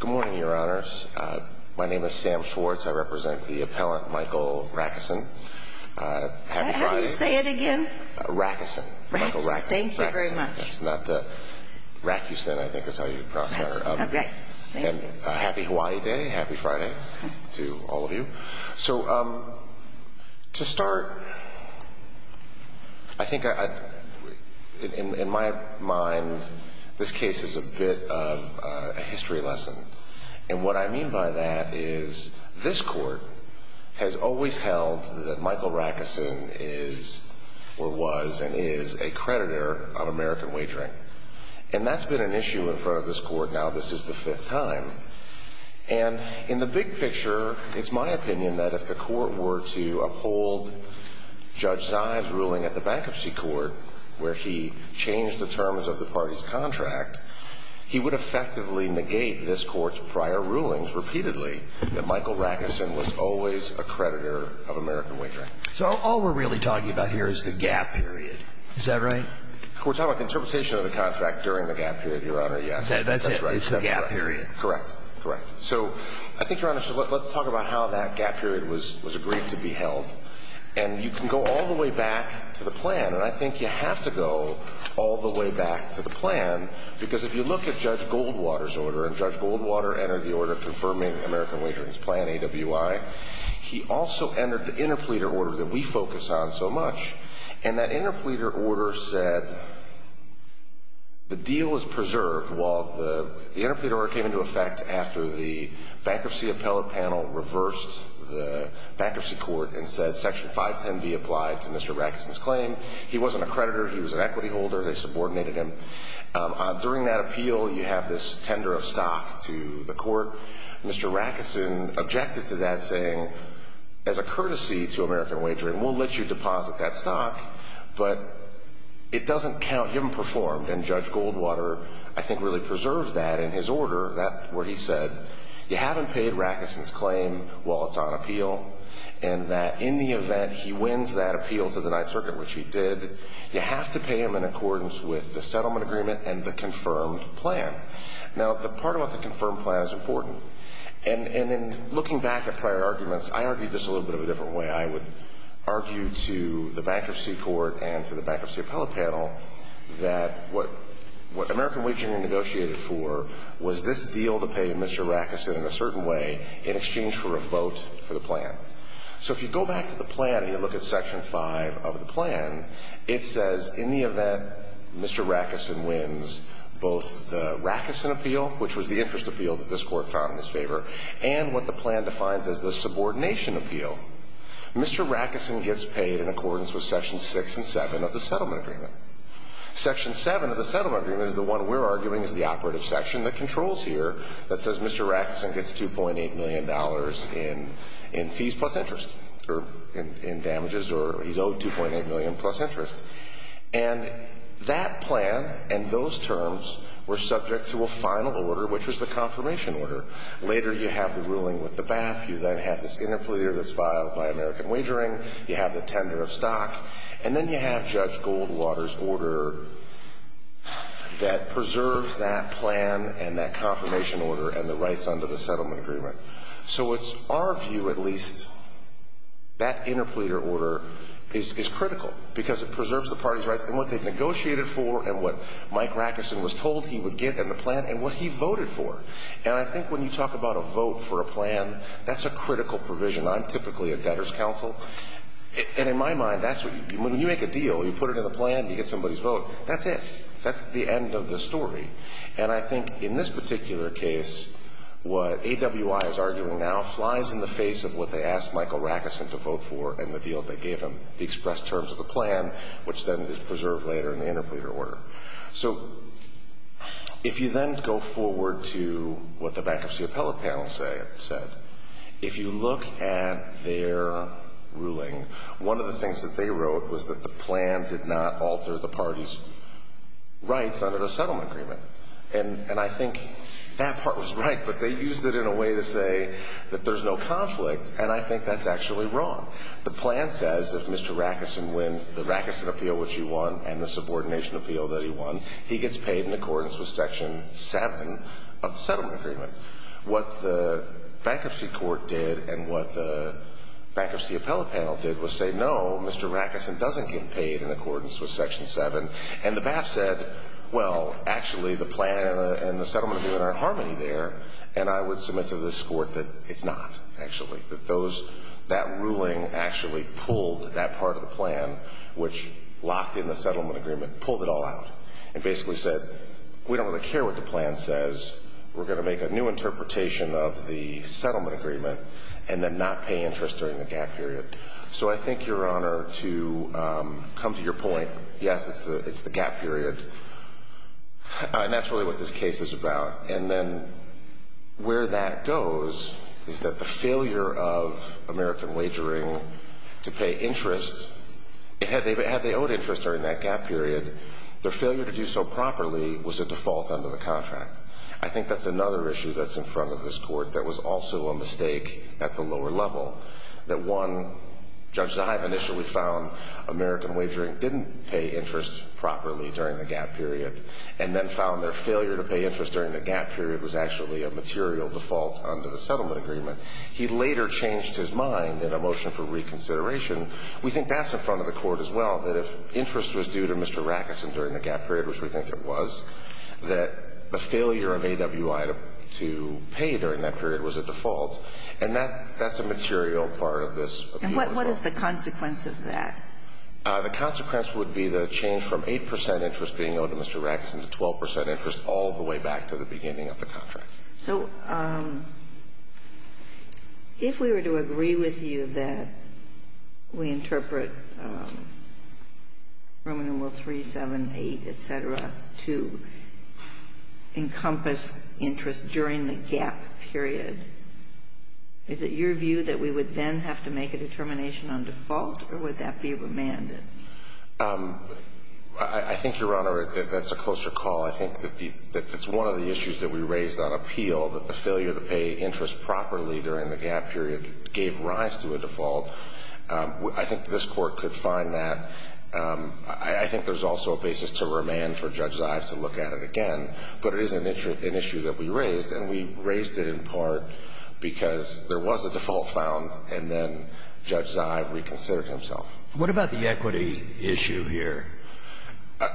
Good morning, Your Honors. My name is Sam Schwartz. I represent the appellant, Michael Racusin. Happy Friday. How do you say it again? Racusin. Michael Racusin. Racusin. Thank you very much. Racusin, I think is how you pronounce it. Okay, thank you. Happy Hawaii Day. Happy Friday to all of you. So, to start, I think in my mind, this case is a bit of a history lesson. And what I mean by that is this court has always held that Michael Racusin is or was and is a creditor of American Wagering. And that's been an issue in front of this court most of the time. And in the big picture, it's my opinion that if the court were to uphold Judge Zives' ruling at the Bankruptcy Court, where he changed the terms of the party's contract, he would effectively negate this court's prior rulings repeatedly that Michael Racusin was always a creditor of American Wagering. So all we're really talking about here is the gap period. Is that right? We're talking about the interpretation of the contract during the gap period, Your Honor. Yes. That's it. It's the gap period. Correct. Correct. So I think, Your Honor, let's talk about how that gap period was agreed to be held. And you can go all the way back to the plan. And I think you have to go all the way back to the plan, because if you look at Judge Goldwater's order, and Judge Goldwater entered the order confirming American Wagering's plan, AWI, he also entered the interpleader order that we focus on so much. And that interpleader order said the deal is preserved, while the interpleader order came into effect after the Bankruptcy Appellate Panel reversed the Bankruptcy Court and said Section 510B applied to Mr. Racusin's claim. He wasn't a creditor. He was an equity holder. They subordinated him. During that appeal, you have this tender of stock to the court. Mr. Racusin objected to that, saying, as a courtesy to American Wagering, we'll let you deposit that stock, but it doesn't count. You haven't performed. And Judge Goldwater, I think, really preserved that in his order, where he said, you haven't paid Racusin's claim while it's on appeal, and that in the event he wins that appeal to the Ninth Circuit, which he did, you have to pay him in accordance with the settlement agreement and the confirmed plan. Now, the part about the confirmed plan is important. And in looking back at prior arguments, I argued this a little bit of a different way. I would argue to the Bankruptcy Court and to the Bankruptcy Appellate Panel that what American Wagering negotiated for was this deal to pay Mr. Racusin in a certain way in exchange for a vote for the plan. So if you go back to the plan and you look at Section 5 of the plan, it says in the event Mr. Racusin wins both the Racusin appeal, which was the interest appeal that this Court found in his favor, and what the plan defines as the subordination appeal, Mr. Racusin gets paid in accordance with Sections 6 and 7 of the settlement agreement. Section 7 of the settlement agreement is the one we're arguing is the operative section that controls here that says Mr. Racusin gets $2.8 million in fees plus interest, or in damages, or he's owed $2.8 million plus interest. And that plan and those terms were subject to a final order, which was the confirmation order. Later, you have the ruling with the BAP. You then have this interpleader that's filed by American Wagering. You have the tender of stock. And then you have Judge Goldwater's order that preserves that plan and that confirmation order and the rights under the settlement agreement. So it's our view, at least, that interpleader order is critical because it preserves the party's rights and what they negotiated for and what Mike Racusin was told he would get in the plan and what he voted for. And I think when you talk about a vote for a plan, that's a critical provision. I'm typically a debtor's counsel. And in my mind, that's what you do. When you make a deal, you put it in the plan, you get somebody's vote. That's it. That's the end of the story. And I think in this particular case, what AWI is arguing now flies in the face of what they asked Michael Racusin to vote for and the deal they gave him, the expressed terms of the plan, which then is preserved later in the interpleader order. So if you then go forward to what the bankruptcy appellate panel said, if you look at their ruling, one of the things that they wrote was that the plan did not alter the party's rights under the settlement agreement. And I think that part was right, but they used it in a way to say that there's no conflict, and I think that's actually wrong. The plan says if Mr. Racusin wins, the Racusin appeal, which he won, and the subordination appeal that he won, he gets paid in accordance with Section 7 of the settlement agreement. What the bankruptcy court did and what the bankruptcy appellate panel did was say, no, Mr. Racusin doesn't get paid in accordance with Section 7. And the BAPF said, well, actually, the plan and the settlement agreement are in harmony there, and I would submit to this Court that it's not, actually, that those — that ruling actually pulled that part of the plan, which locked in the settlement agreement, pulled it all out, and basically said we don't really care what the plan says. We're going to make a new interpretation of the settlement agreement and then not pay interest during the gap period. So I think, Your Honor, to come to your point, yes, it's the gap period, and that's really what this case is about. And then where that goes is that the failure of American Wagering to pay interest, had they owed interest during that gap period, their failure to do so properly was a default under the contract. I think that's another issue that's in front of this Court that was also a mistake at the lower level, that one — Judge Zaheib initially found American Wagering didn't pay interest properly during the gap period, and then found their failure to pay interest during the gap period was actually a material default under the settlement agreement. He later changed his mind in a motion for reconsideration. We think that's in front of the Court as well, that if interest was due to Mr. Rackeson during the gap period, which we think it was, that the failure of AWI to pay during that period was a default. And that — that's a material part of this appeal as well. And what is the consequence of that? The consequence would be the change from 8 percent interest being owed to Mr. Rackeson to 12 percent interest all the way back to the beginning of the contract. So if we were to agree with you that we interpret Roman numeral 378, et cetera, to encompass interest during the gap period, is it your view that we would then have to make a determination on default, or would that be remanded? I think, Your Honor, that's a closer call. I think that the — that's one of the issues that we raised on appeal, that the failure to pay interest properly during the gap period gave rise to a default. I think this Court could find that. I think there's also a basis to remand for Judge Zive to look at it again. But it is an issue that we raised, and we raised it in part because there was a default found, and then Judge Zive reconsidered himself. What about the equity issue here?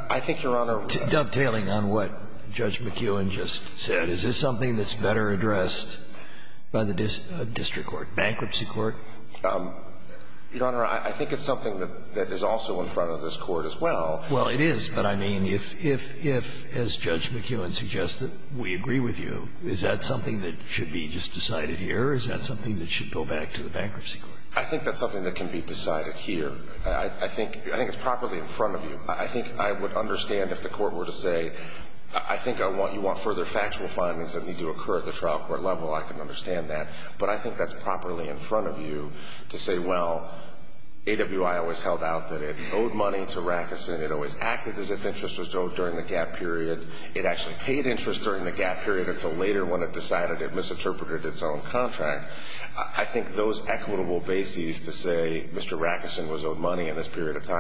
I think, Your Honor — Dovetailing on what Judge McKeown just said, is this something that's better addressed by the district court, bankruptcy court? Your Honor, I think it's something that is also in front of this Court as well. Well, it is. But, I mean, if, as Judge McKeown suggests, that we agree with you, is that something that should be just decided here, or is that something that should go back to the bankruptcy court? I think that's something that can be decided here. I think it's properly in front of you. I think I would understand if the Court were to say, I think you want further factual findings that need to occur at the trial court level. I can understand that. But I think that's properly in front of you to say, well, AWI always held out that it owed money to Rackison. It always acted as if interest was owed during the gap period. It actually paid interest during the gap period until later when it decided it misinterpreted its own contract. I think those equitable bases to say, Mr. Rackison was owed money in this period of time.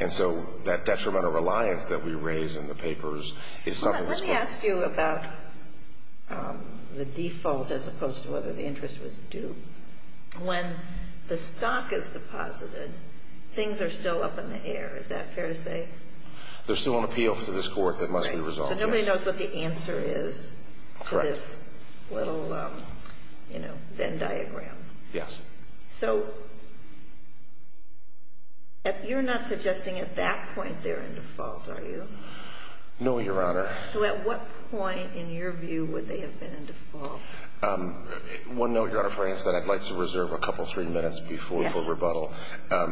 And so that detrimental reliance that we raise in the papers is something that's going to... Let me ask you about the default as opposed to whether the interest was due. When the stock is deposited, things are still up in the air. Is that fair to say? They're still on appeal to this Court. It must be resolved. Right. So nobody knows what the answer is to this little, you know, Venn diagram. Yes. So you're not suggesting at that point they're in default, are you? No, Your Honor. So at what point in your view would they have been in default? Well, no, Your Honor. For instance, I'd like to reserve a couple, three minutes before the rebuttal. Yes.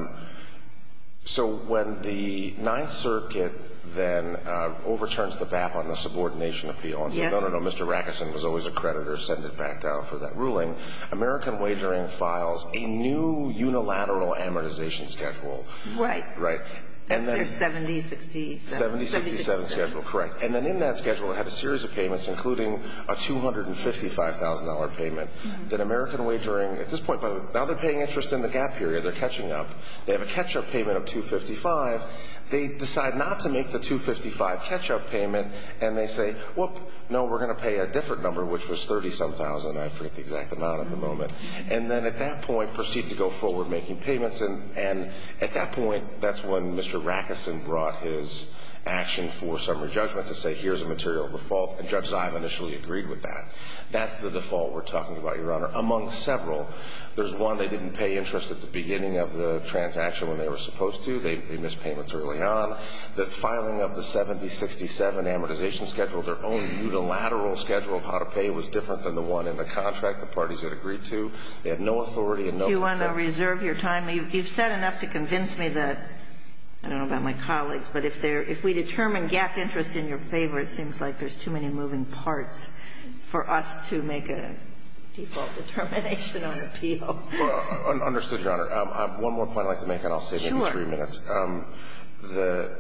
So when the Ninth Circuit then overturns the BAP on the subordination appeal and says, no, no, no, Mr. Rackison was always a creditor, send it back down for that ruling, American Wagering files a new unilateral amortization schedule. Right. Right. That's their 70-67. 70-67 schedule, correct. And then in that schedule it had a series of payments, including a $255,000 payment that American Wagering at this point, now they're paying interest in the gap period, they're catching up. They have a catch-up payment of $255,000. They decide not to make the $255,000 catch-up payment and they say, whoop, no, we're going to pay a different number, which was $30-some-thousand, I forget the exact amount at the moment. And then at that point proceed to go forward making payments. And at that point, that's when Mr. Rackison brought his action for summary judgment to say, here's a material default, and Judge Zia initially agreed with that. That's the default we're talking about, Your Honor. Among several, there's one they didn't pay interest at the beginning of the transaction when they were supposed to. They missed payments early on. The filing of the 70-67 amortization schedule, their own unilateral schedule of how to pay was different than the one in the contract. The parties had agreed to. They had no authority and no consent. You want to reserve your time? You've said enough to convince me that, I don't know about my colleagues, but if there – if we determine gap interest in your favor, it seems like there's too many moving parts for us to make a default determination on appeal. Well, understood, Your Honor. One more point I'd like to make, and I'll save you three minutes. Sure.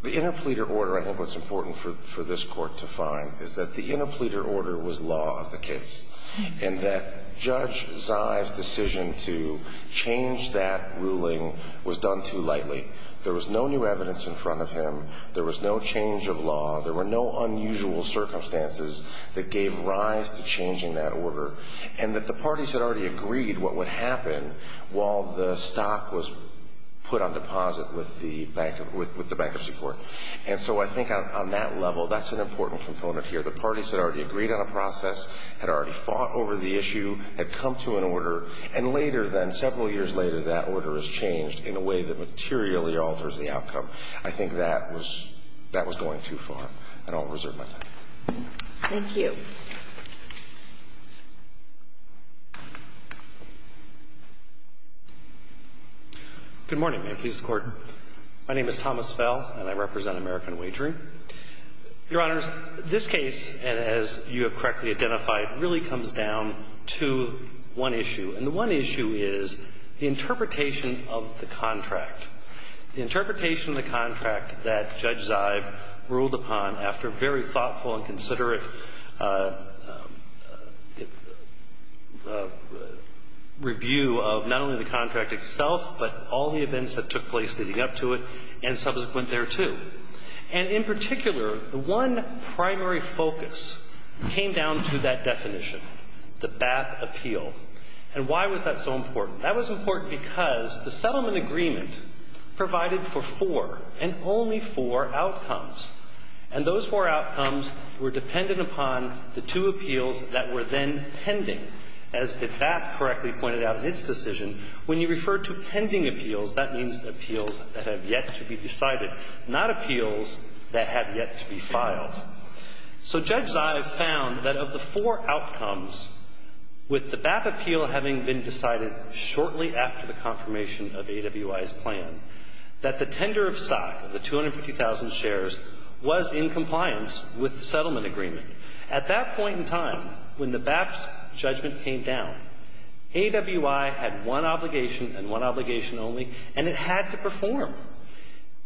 The interpleader order, I think what's important for this Court to find, is that the interpleader order was law of the case, and that Judge Zia's decision to change that ruling was done too lightly. There was no new evidence in front of him. There was no change of law. There were no unusual circumstances that gave rise to changing that order, and that the parties had already agreed what would happen while the bankruptcy court. And so I think on that level, that's an important component here. The parties had already agreed on a process, had already fought over the issue, had come to an order, and later then, several years later, that order is changed in a way that materially alters the outcome. I think that was going too far, and I'll reserve my time. Thank you. Good morning, Manifest Court. My name is Thomas Fell, and I represent American Wagering. Your Honors, this case, as you have correctly identified, really comes down to one issue, and the one issue is the interpretation of the contract. The interpretation of the contract that Judge Zia ruled upon after very thoughtful and considerate review of not only the contract itself, but all the events that took place leading up to it, and subsequent thereto. And in particular, the one primary focus came down to that definition, the BAP appeal. And why was that so important? That was important because the settlement agreement provided for four and only four outcomes. And those four outcomes were dependent upon the two appeals that were then pending. As the BAP correctly pointed out in its decision, when you refer to pending appeals, that means appeals that have yet to be decided, not appeals that have yet to be filed. So Judge Zia found that of the four outcomes, with the BAP appeal having been decided shortly after the confirmation of AWI's plan, that the tender of stock of the 250,000 shares was in compliance with the settlement agreement. At that point in time, when the BAP's judgment came down, AWI had one obligation and one obligation only, and it had to perform.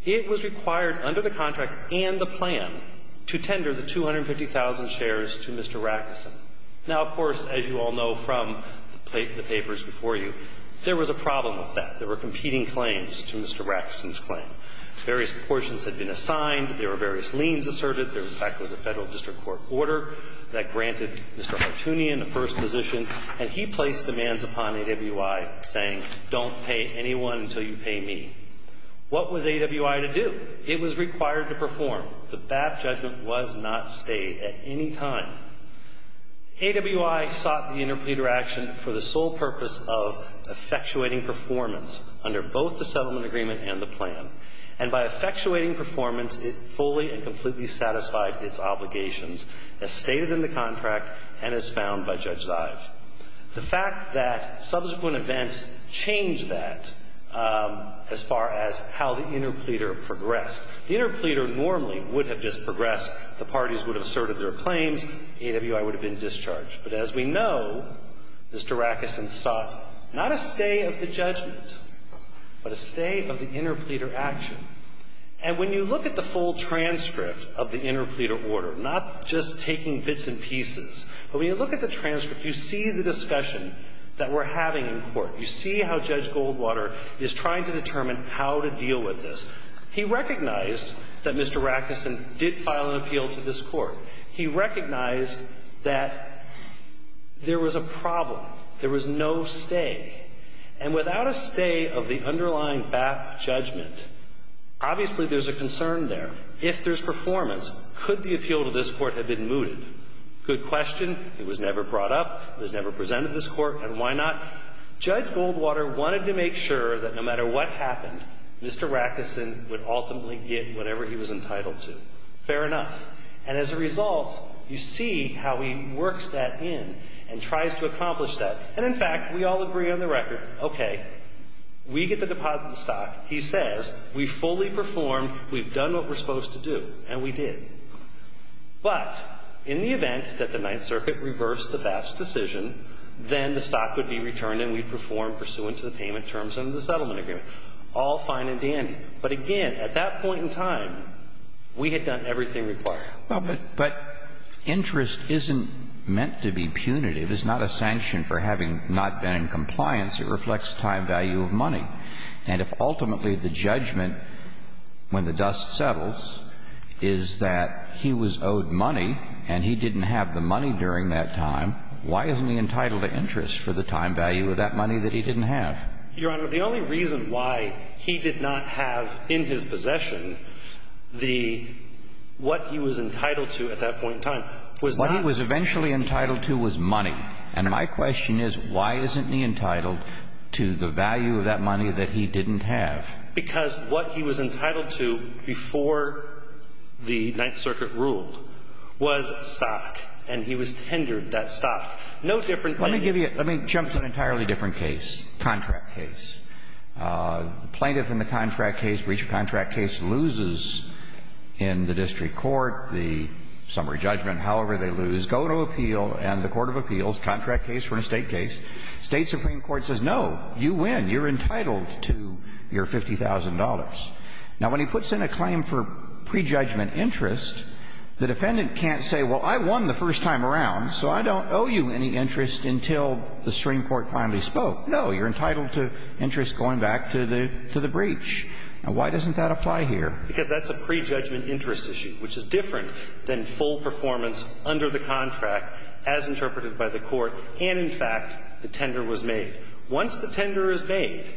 It was required under the contract and the plan to tender the 250,000 shares to Mr. Rackeson. Now, of course, as you all know from the papers before you, there was a problem with that. There were competing claims to Mr. Rackeson's claim. Various proportions had been assigned. There were various liens asserted. There, in fact, was a Federal District Court order that granted Mr. Hartoonian a first position, and he placed demands upon AWI, saying, don't pay anyone until you pay me. What was AWI to do? It was required to perform. The BAP judgment was not stayed at any time. AWI sought the interpleader action for the sole purpose of effectuating performance under both the settlement agreement and the plan, and by effectuating performance, it fully and completely satisfied its obligations as stated in the contract and as found by Judge Zive. The fact that subsequent events changed that as far as how the interpleader progressed. The interpleader normally would have just progressed. The parties would have asserted their claims. AWI would have been discharged. But as we know, Mr. Rackeson sought not a stay of the judgment, but a stay of the interpleader action. And when you look at the full transcript of the interpleader order, not just taking bits and pieces, but when you look at the transcript, you see the discussion that we're having in court. You see how Judge Goldwater is trying to determine how to deal with this. He recognized that Mr. Rackeson did file an appeal to this court. He recognized that there was a problem. There was no stay. And without a stay of the underlying BAP judgment, obviously there's a concern there. If there's performance, could the appeal to this court have been mooted? Good question. It was never brought up. It was never presented to this court. And why not? Judge Goldwater wanted to make sure that no matter what happened, Mr. Rackeson would ultimately get whatever he was entitled to. Fair enough. And as a result, you see how he works that in and tries to accomplish that. And in fact, we all agree on the record, okay, we get the deposit stock. He says we fully performed, we've done what we're supposed to do, and we did. But in the event that the Ninth Circuit reversed the BAP's decision, then the stock would be returned and we'd perform pursuant to the payment terms under the settlement agreement, all fine and dandy. But again, at that point in time, we had done everything required. But interest isn't meant to be punitive. It's not a sanction for having not been in compliance. It reflects time value of money. And if ultimately the judgment, when the dust settles, is that he was owed money and he didn't have the money during that time, why isn't he entitled to interest for the time value of that money that he didn't have? Your Honor, the only reason why he did not have in his possession the — what he was entitled to at that point in time was not — Why isn't he entitled to the value of that money that he didn't have? Because what he was entitled to before the Ninth Circuit ruled was stock, and he was tendered that stock. No different than — Let me give you — let me jump to an entirely different case, contract case. The plaintiff in the contract case, breach of contract case, loses in the district court the summary judgment, however they lose. Go to appeal, and the court of appeals contract case or in a State case, State supreme court says, no, you win, you're entitled to your $50,000. Now, when he puts in a claim for prejudgment interest, the defendant can't say, well, I won the first time around, so I don't owe you any interest until the supreme court finally spoke. No, you're entitled to interest going back to the — to the breach. Now, why doesn't that apply here? Because that's a prejudgment interest issue, which is different than full performance under the contract as interpreted by the court. And, in fact, the tender was made. Once the tender is made, then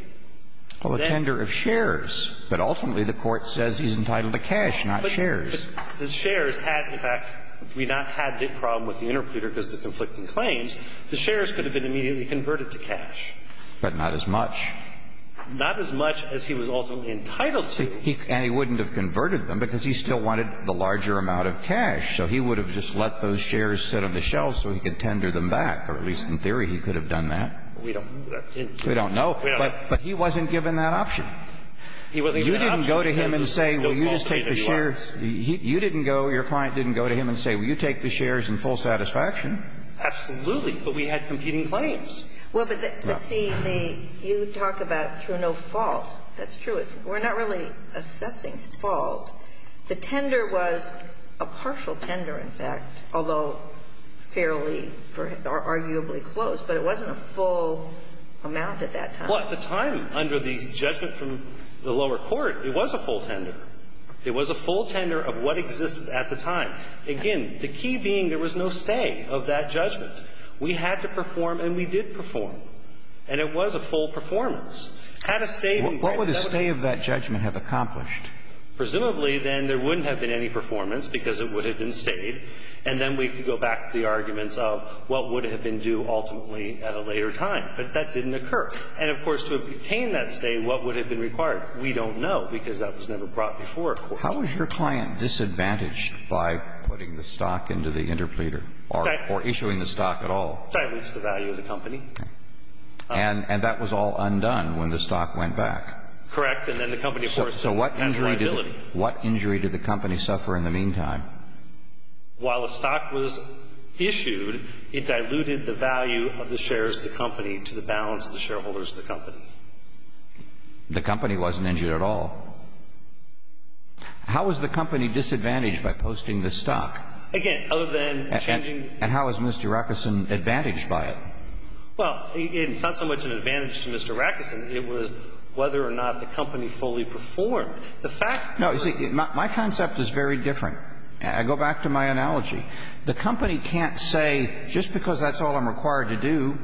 — Well, a tender of shares. But ultimately, the court says he's entitled to cash, not shares. But the shares had, in fact, we not had the problem with the interpreter because of the conflicting claims. The shares could have been immediately converted to cash. But not as much. Not as much as he was ultimately entitled to. And he wouldn't have converted them because he still wanted the larger amount of cash. So he would have just let those shares sit on the shelf so he could tender them back, or at least in theory he could have done that. We don't know. We don't know. But he wasn't given that option. You didn't go to him and say, well, you just take the shares. You didn't go, your client didn't go to him and say, well, you take the shares in full satisfaction. Absolutely. But we had competing claims. Well, but see, you talk about through no fault. That's true. We're not really assessing fault. The tender was a partial tender, in fact, although fairly or arguably close. But it wasn't a full amount at that time. Well, at the time, under the judgment from the lower court, it was a full tender. It was a full tender of what existed at the time. Again, the key being there was no stay of that judgment. We had to perform and we did perform. And it was a full performance. Had a stay. What would a stay of that judgment have accomplished? Presumably, then, there wouldn't have been any performance because it would have been stayed. And then we could go back to the arguments of what would have been due ultimately at a later time. But that didn't occur. And, of course, to obtain that stay, what would have been required? We don't know because that was never brought before a court. How was your client disadvantaged by putting the stock into the interpleader or issuing the stock at all? That was the value of the company. And that was all undone when the stock went back. Correct. So what injury did the company suffer in the meantime? While the stock was issued, it diluted the value of the shares of the company to the balance of the shareholders of the company. The company wasn't injured at all. How was the company disadvantaged by posting the stock? Again, other than changing. And how was Mr. Rackeson advantaged by it? Well, it's not so much an advantage to Mr. Rackeson. It was whether or not the company fully performed. The fact of the matter is that my concept is very different. I go back to my analogy. The company can't say just because that's all I'm required to do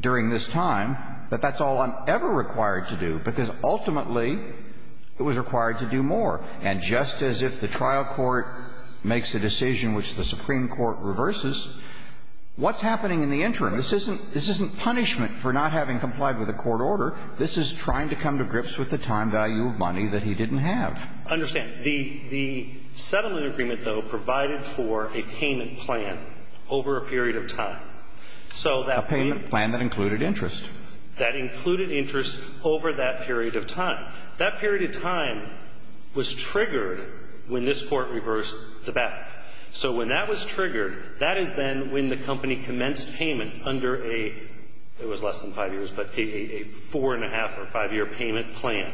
during this time that that's all I'm ever required to do, because ultimately it was required to do more. And just as if the trial court makes a decision which the Supreme Court reverses, what's happening in the interim? This isn't punishment for not having complied with a court order. This is trying to come to grips with the time value of money that he didn't have. I understand. The settlement agreement, though, provided for a payment plan over a period of time. A payment plan that included interest. That included interest over that period of time. That period of time was triggered when this Court reversed the battle. So when that was triggered, that is then when the company commenced payment under a – it was less than five years, but a four-and-a-half or five-year payment plan.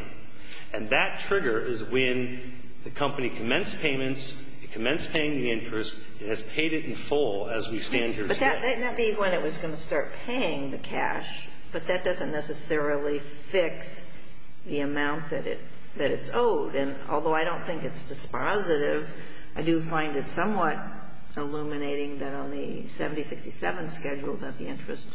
And that trigger is when the company commenced payments, it commenced paying the interest, it has paid it in full as we stand here today. But that may be when it was going to start paying the cash, but that doesn't necessarily fix the amount that it's owed. And although I don't think it's dispositive, I do find it somewhat illuminating that on the 7067 schedule that the interest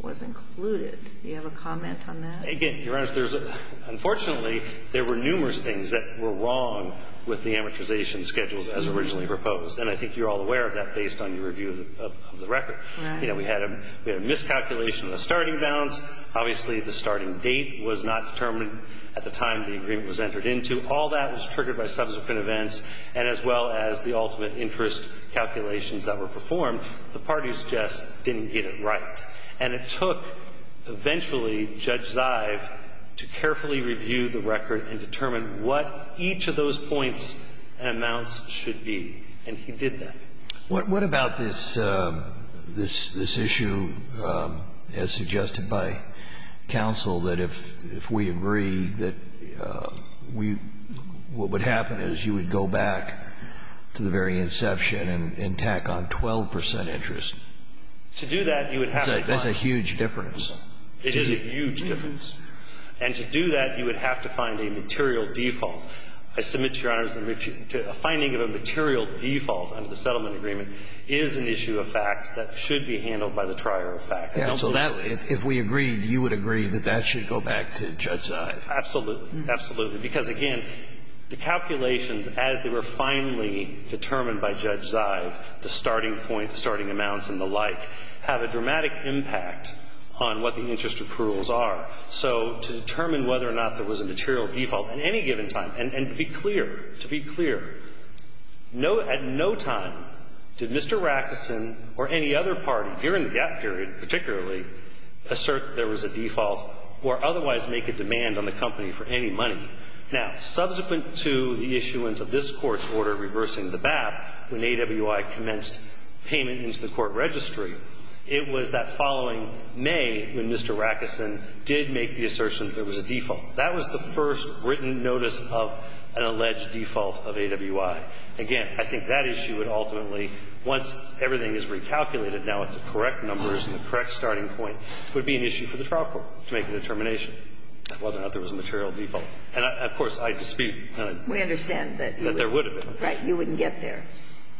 was included. Do you have a comment on that? Again, Your Honor, there's a – unfortunately, there were numerous things that were wrong with the amortization schedules as originally proposed. And I think you're all aware of that based on your review of the record. Right. You know, we had a miscalculation of the starting balance. Obviously, the starting date was not determined at the time the agreement was entered into. All that was triggered by subsequent events and as well as the ultimate interest calculations that were performed. The parties just didn't get it right. And it took, eventually, Judge Zive to carefully review the record and determine what each of those points and amounts should be. And he did that. What about this issue, as suggested by counsel, that if we agree that we – what would happen is you would go back to the very inception and tack on 12 percent interest? To do that, you would have to find – That's a huge difference. It is a huge difference. And to do that, you would have to find a material default. I submit to Your Honor that a finding of a material default under the settlement agreement is an issue of fact that should be handled by the trier of fact. I don't think that would – Yeah. So that, if we agreed, you would agree that that should go back to Judge Zive. Absolutely. Absolutely. Because, again, the calculations, as they were finally determined by Judge Zive, the starting point, the starting amounts and the like, have a dramatic impact on what the interest approvals are. So to determine whether or not there was a material default at any given time, and to be clear, to be clear, no – at no time did Mr. Rackeson or any other party during the gap period particularly assert that there was a default or otherwise make a demand on the company for any money. Now, subsequent to the issuance of this Court's order reversing the BAP when AWI commenced payment into the court registry, it was that following May when Mr. Rackeson did make the assertion that there was a default. That was the first written notice of an alleged default of AWI. Again, I think that issue would ultimately, once everything is recalculated now with the correct numbers and the correct starting point, would be an issue for the trial court to make a determination whether or not there was a material default. And, of course, I dispute that. We understand that you would. That there would have been. Right. You wouldn't get there.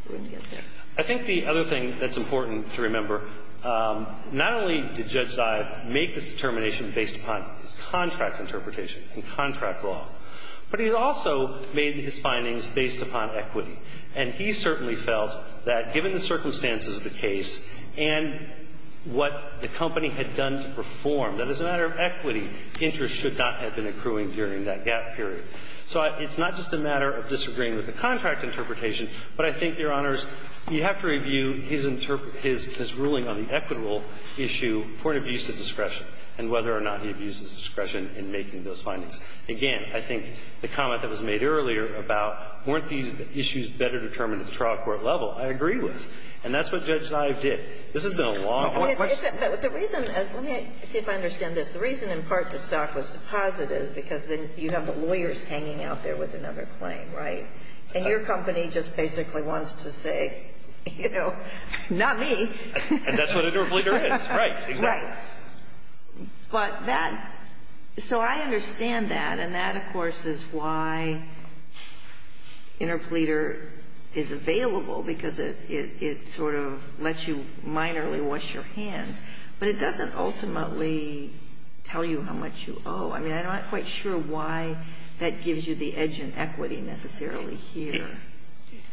You wouldn't get there. I think the other thing that's important to remember, not only did Judge Zive not make this determination based upon his contract interpretation and contract law, but he also made his findings based upon equity. And he certainly felt that given the circumstances of the case and what the company had done to perform, that as a matter of equity, interest should not have been accruing during that gap period. So it's not just a matter of disagreeing with the contract interpretation, but I think, Your Honors, you have to review his ruling on the equitable issue, the point of use of discretion, and whether or not he abuses discretion in making those findings. Again, I think the comment that was made earlier about weren't these issues better determined at the trial court level, I agree with. And that's what Judge Zive did. This has been a long- But the reason is, let me see if I understand this. The reason, in part, the stock was deposited is because then you have the lawyers hanging out there with another claim, right? And your company just basically wants to say, you know, not me. And that's what an interpleader is. Right. Exactly. Right. But that, so I understand that, and that, of course, is why interpleader is available, because it sort of lets you minorly wash your hands. But it doesn't ultimately tell you how much you owe. I mean, I'm not quite sure why that gives you the edge in equity necessarily here.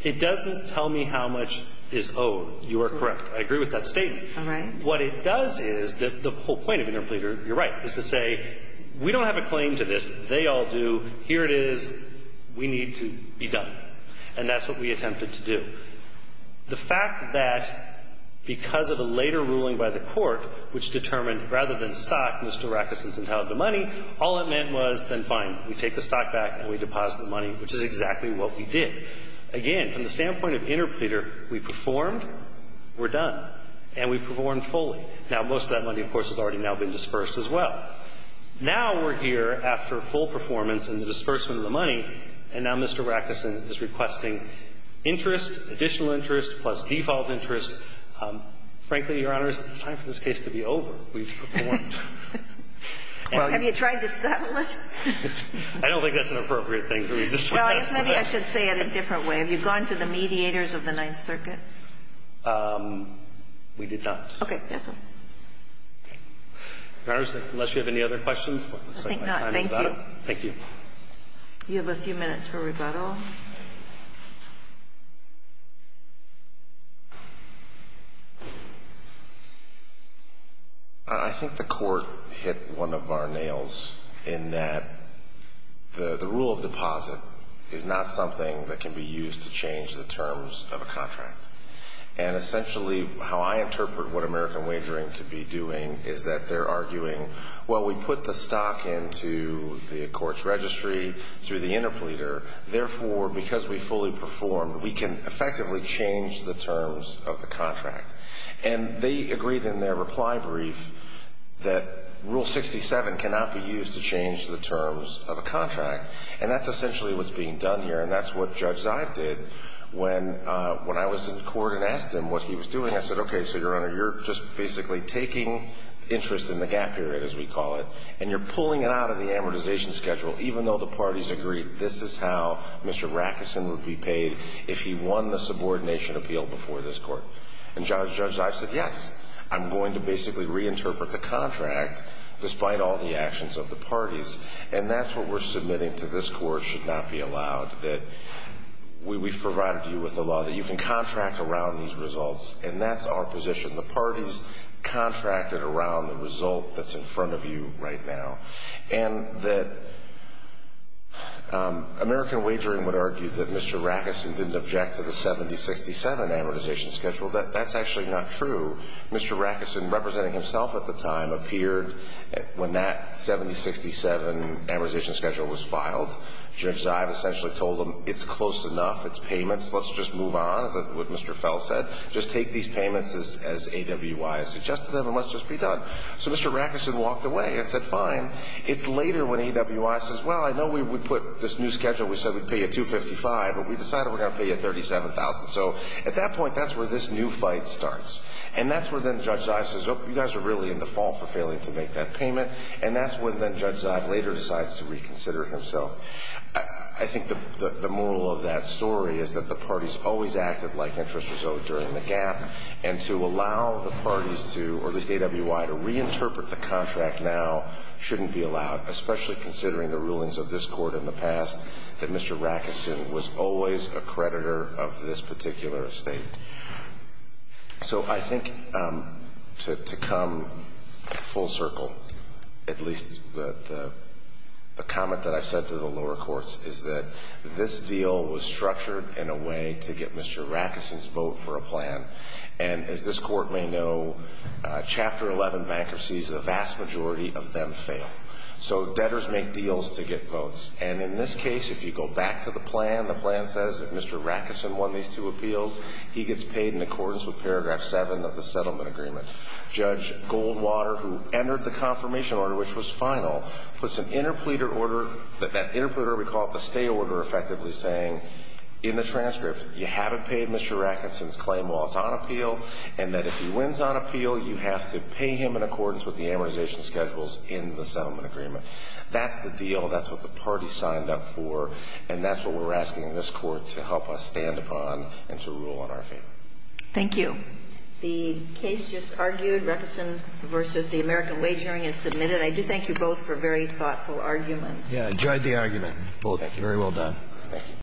It doesn't tell me how much is owed. You are correct. I agree with that statement. All right. What it does is that the whole point of interpleader, you're right, is to say we don't have a claim to this. They all do. Here it is. We need to be done. And that's what we attempted to do. The fact that because of a later ruling by the Court which determined rather than stock, Mr. Rackerson's entitled to money, all it meant was then fine, we take the stock back and we deposit the money, which is exactly what we did. Again, from the standpoint of interpleader, we performed, we're done. And we performed fully. Now, most of that money, of course, has already now been dispersed as well. Now we're here after full performance and the disbursement of the money, and now Mr. Rackerson is requesting interest, additional interest, plus default interest. Frankly, Your Honors, it's time for this case to be over. We've performed. Well, have you tried to settle it? I don't think that's an appropriate thing to say. Well, maybe I should say it a different way. Have you gone to the mediators of the Ninth Circuit? We did not. Okay. That's all. Your Honors, unless you have any other questions, looks like my time is about up. I think not. Thank you. Thank you. You have a few minutes for rebuttal. I think the Court hit one of our nails in that the rule of deposit is not something that can be used to change the terms of a contract. And essentially, how I interpret what American Wagering to be doing is that they're arguing, well, we put the stock into the Court's registry through the interpleader. Therefore, because we fully performed, we can effectively change the terms of the contract. And they agreed in their reply brief that Rule 67 cannot be used to change the terms of a contract. And that's essentially what's being done here. And that's what Judge Zive did when I was in court and asked him what he was doing. I said, okay, so, Your Honor, you're just basically taking interest in the gap period, as we call it, and you're pulling it out of the amortization schedule even though the parties agreed this is how Mr. Rackeson would be paid if he won the subordination appeal before this Court. And Judge Zive said, yes, I'm going to basically reinterpret the contract despite all the actions of the parties. And that's what we're submitting to this Court should not be allowed, that we've provided you with a law that you can contract around these results. And that's our position. The parties contracted around the result that's in front of you right now. And that American Wagering would argue that Mr. Rackeson didn't object to the 70-67 amortization schedule. That's actually not true. Mr. Rackeson, representing himself at the time, appeared when that 70-67 amortization schedule was filed. Judge Zive essentially told him it's close enough, it's payments, let's just move on, is what Mr. A.W.I. suggested to them, and let's just be done. So Mr. Rackeson walked away and said, fine. It's later when A.W.I. says, well, I know we put this new schedule, we said we'd pay you $255,000, but we decided we're going to pay you $37,000. So at that point, that's where this new fight starts. And that's where then Judge Zive says, oh, you guys are really in the fall for failing to make that payment. And that's when then Judge Zive later decides to reconsider himself. So I think the moral of that story is that the parties always acted like interest was owed during the gap, and to allow the parties to, or at least A.W.I., to reinterpret the contract now shouldn't be allowed, especially considering the rulings of this Court in the past that Mr. Rackeson was always a creditor of this particular estate. So I think to come full circle, at least the comment that I've said to the lower courts, is that this deal was structured in a way to get Mr. Rackeson's vote for a plan. And as this Court may know, Chapter 11 bankruptcies, the vast majority of them fail. So debtors make deals to get votes. And in this case, if you go back to the plan, the plan says if Mr. Rackeson won these two appeals, he gets paid in accordance with paragraph 7 of the settlement agreement. Judge Goldwater, who entered the confirmation order, which was final, puts an interpleader order, that interpleader we call it the stay order, effectively saying in the transcript, you haven't paid Mr. Rackeson's claim while it's on appeal, and that if he wins on appeal, you have to pay him in accordance with the amortization schedules in the settlement agreement. That's the deal. That's what the party signed up for. And that's what we're asking this Court to help us stand upon and to rule in our favor. Thank you. The case just argued. Rackeson v. The American Wage Hearing is submitted. I do thank you both for very thoughtful arguments. Yeah, I enjoyed the argument. Thank you. Very well done.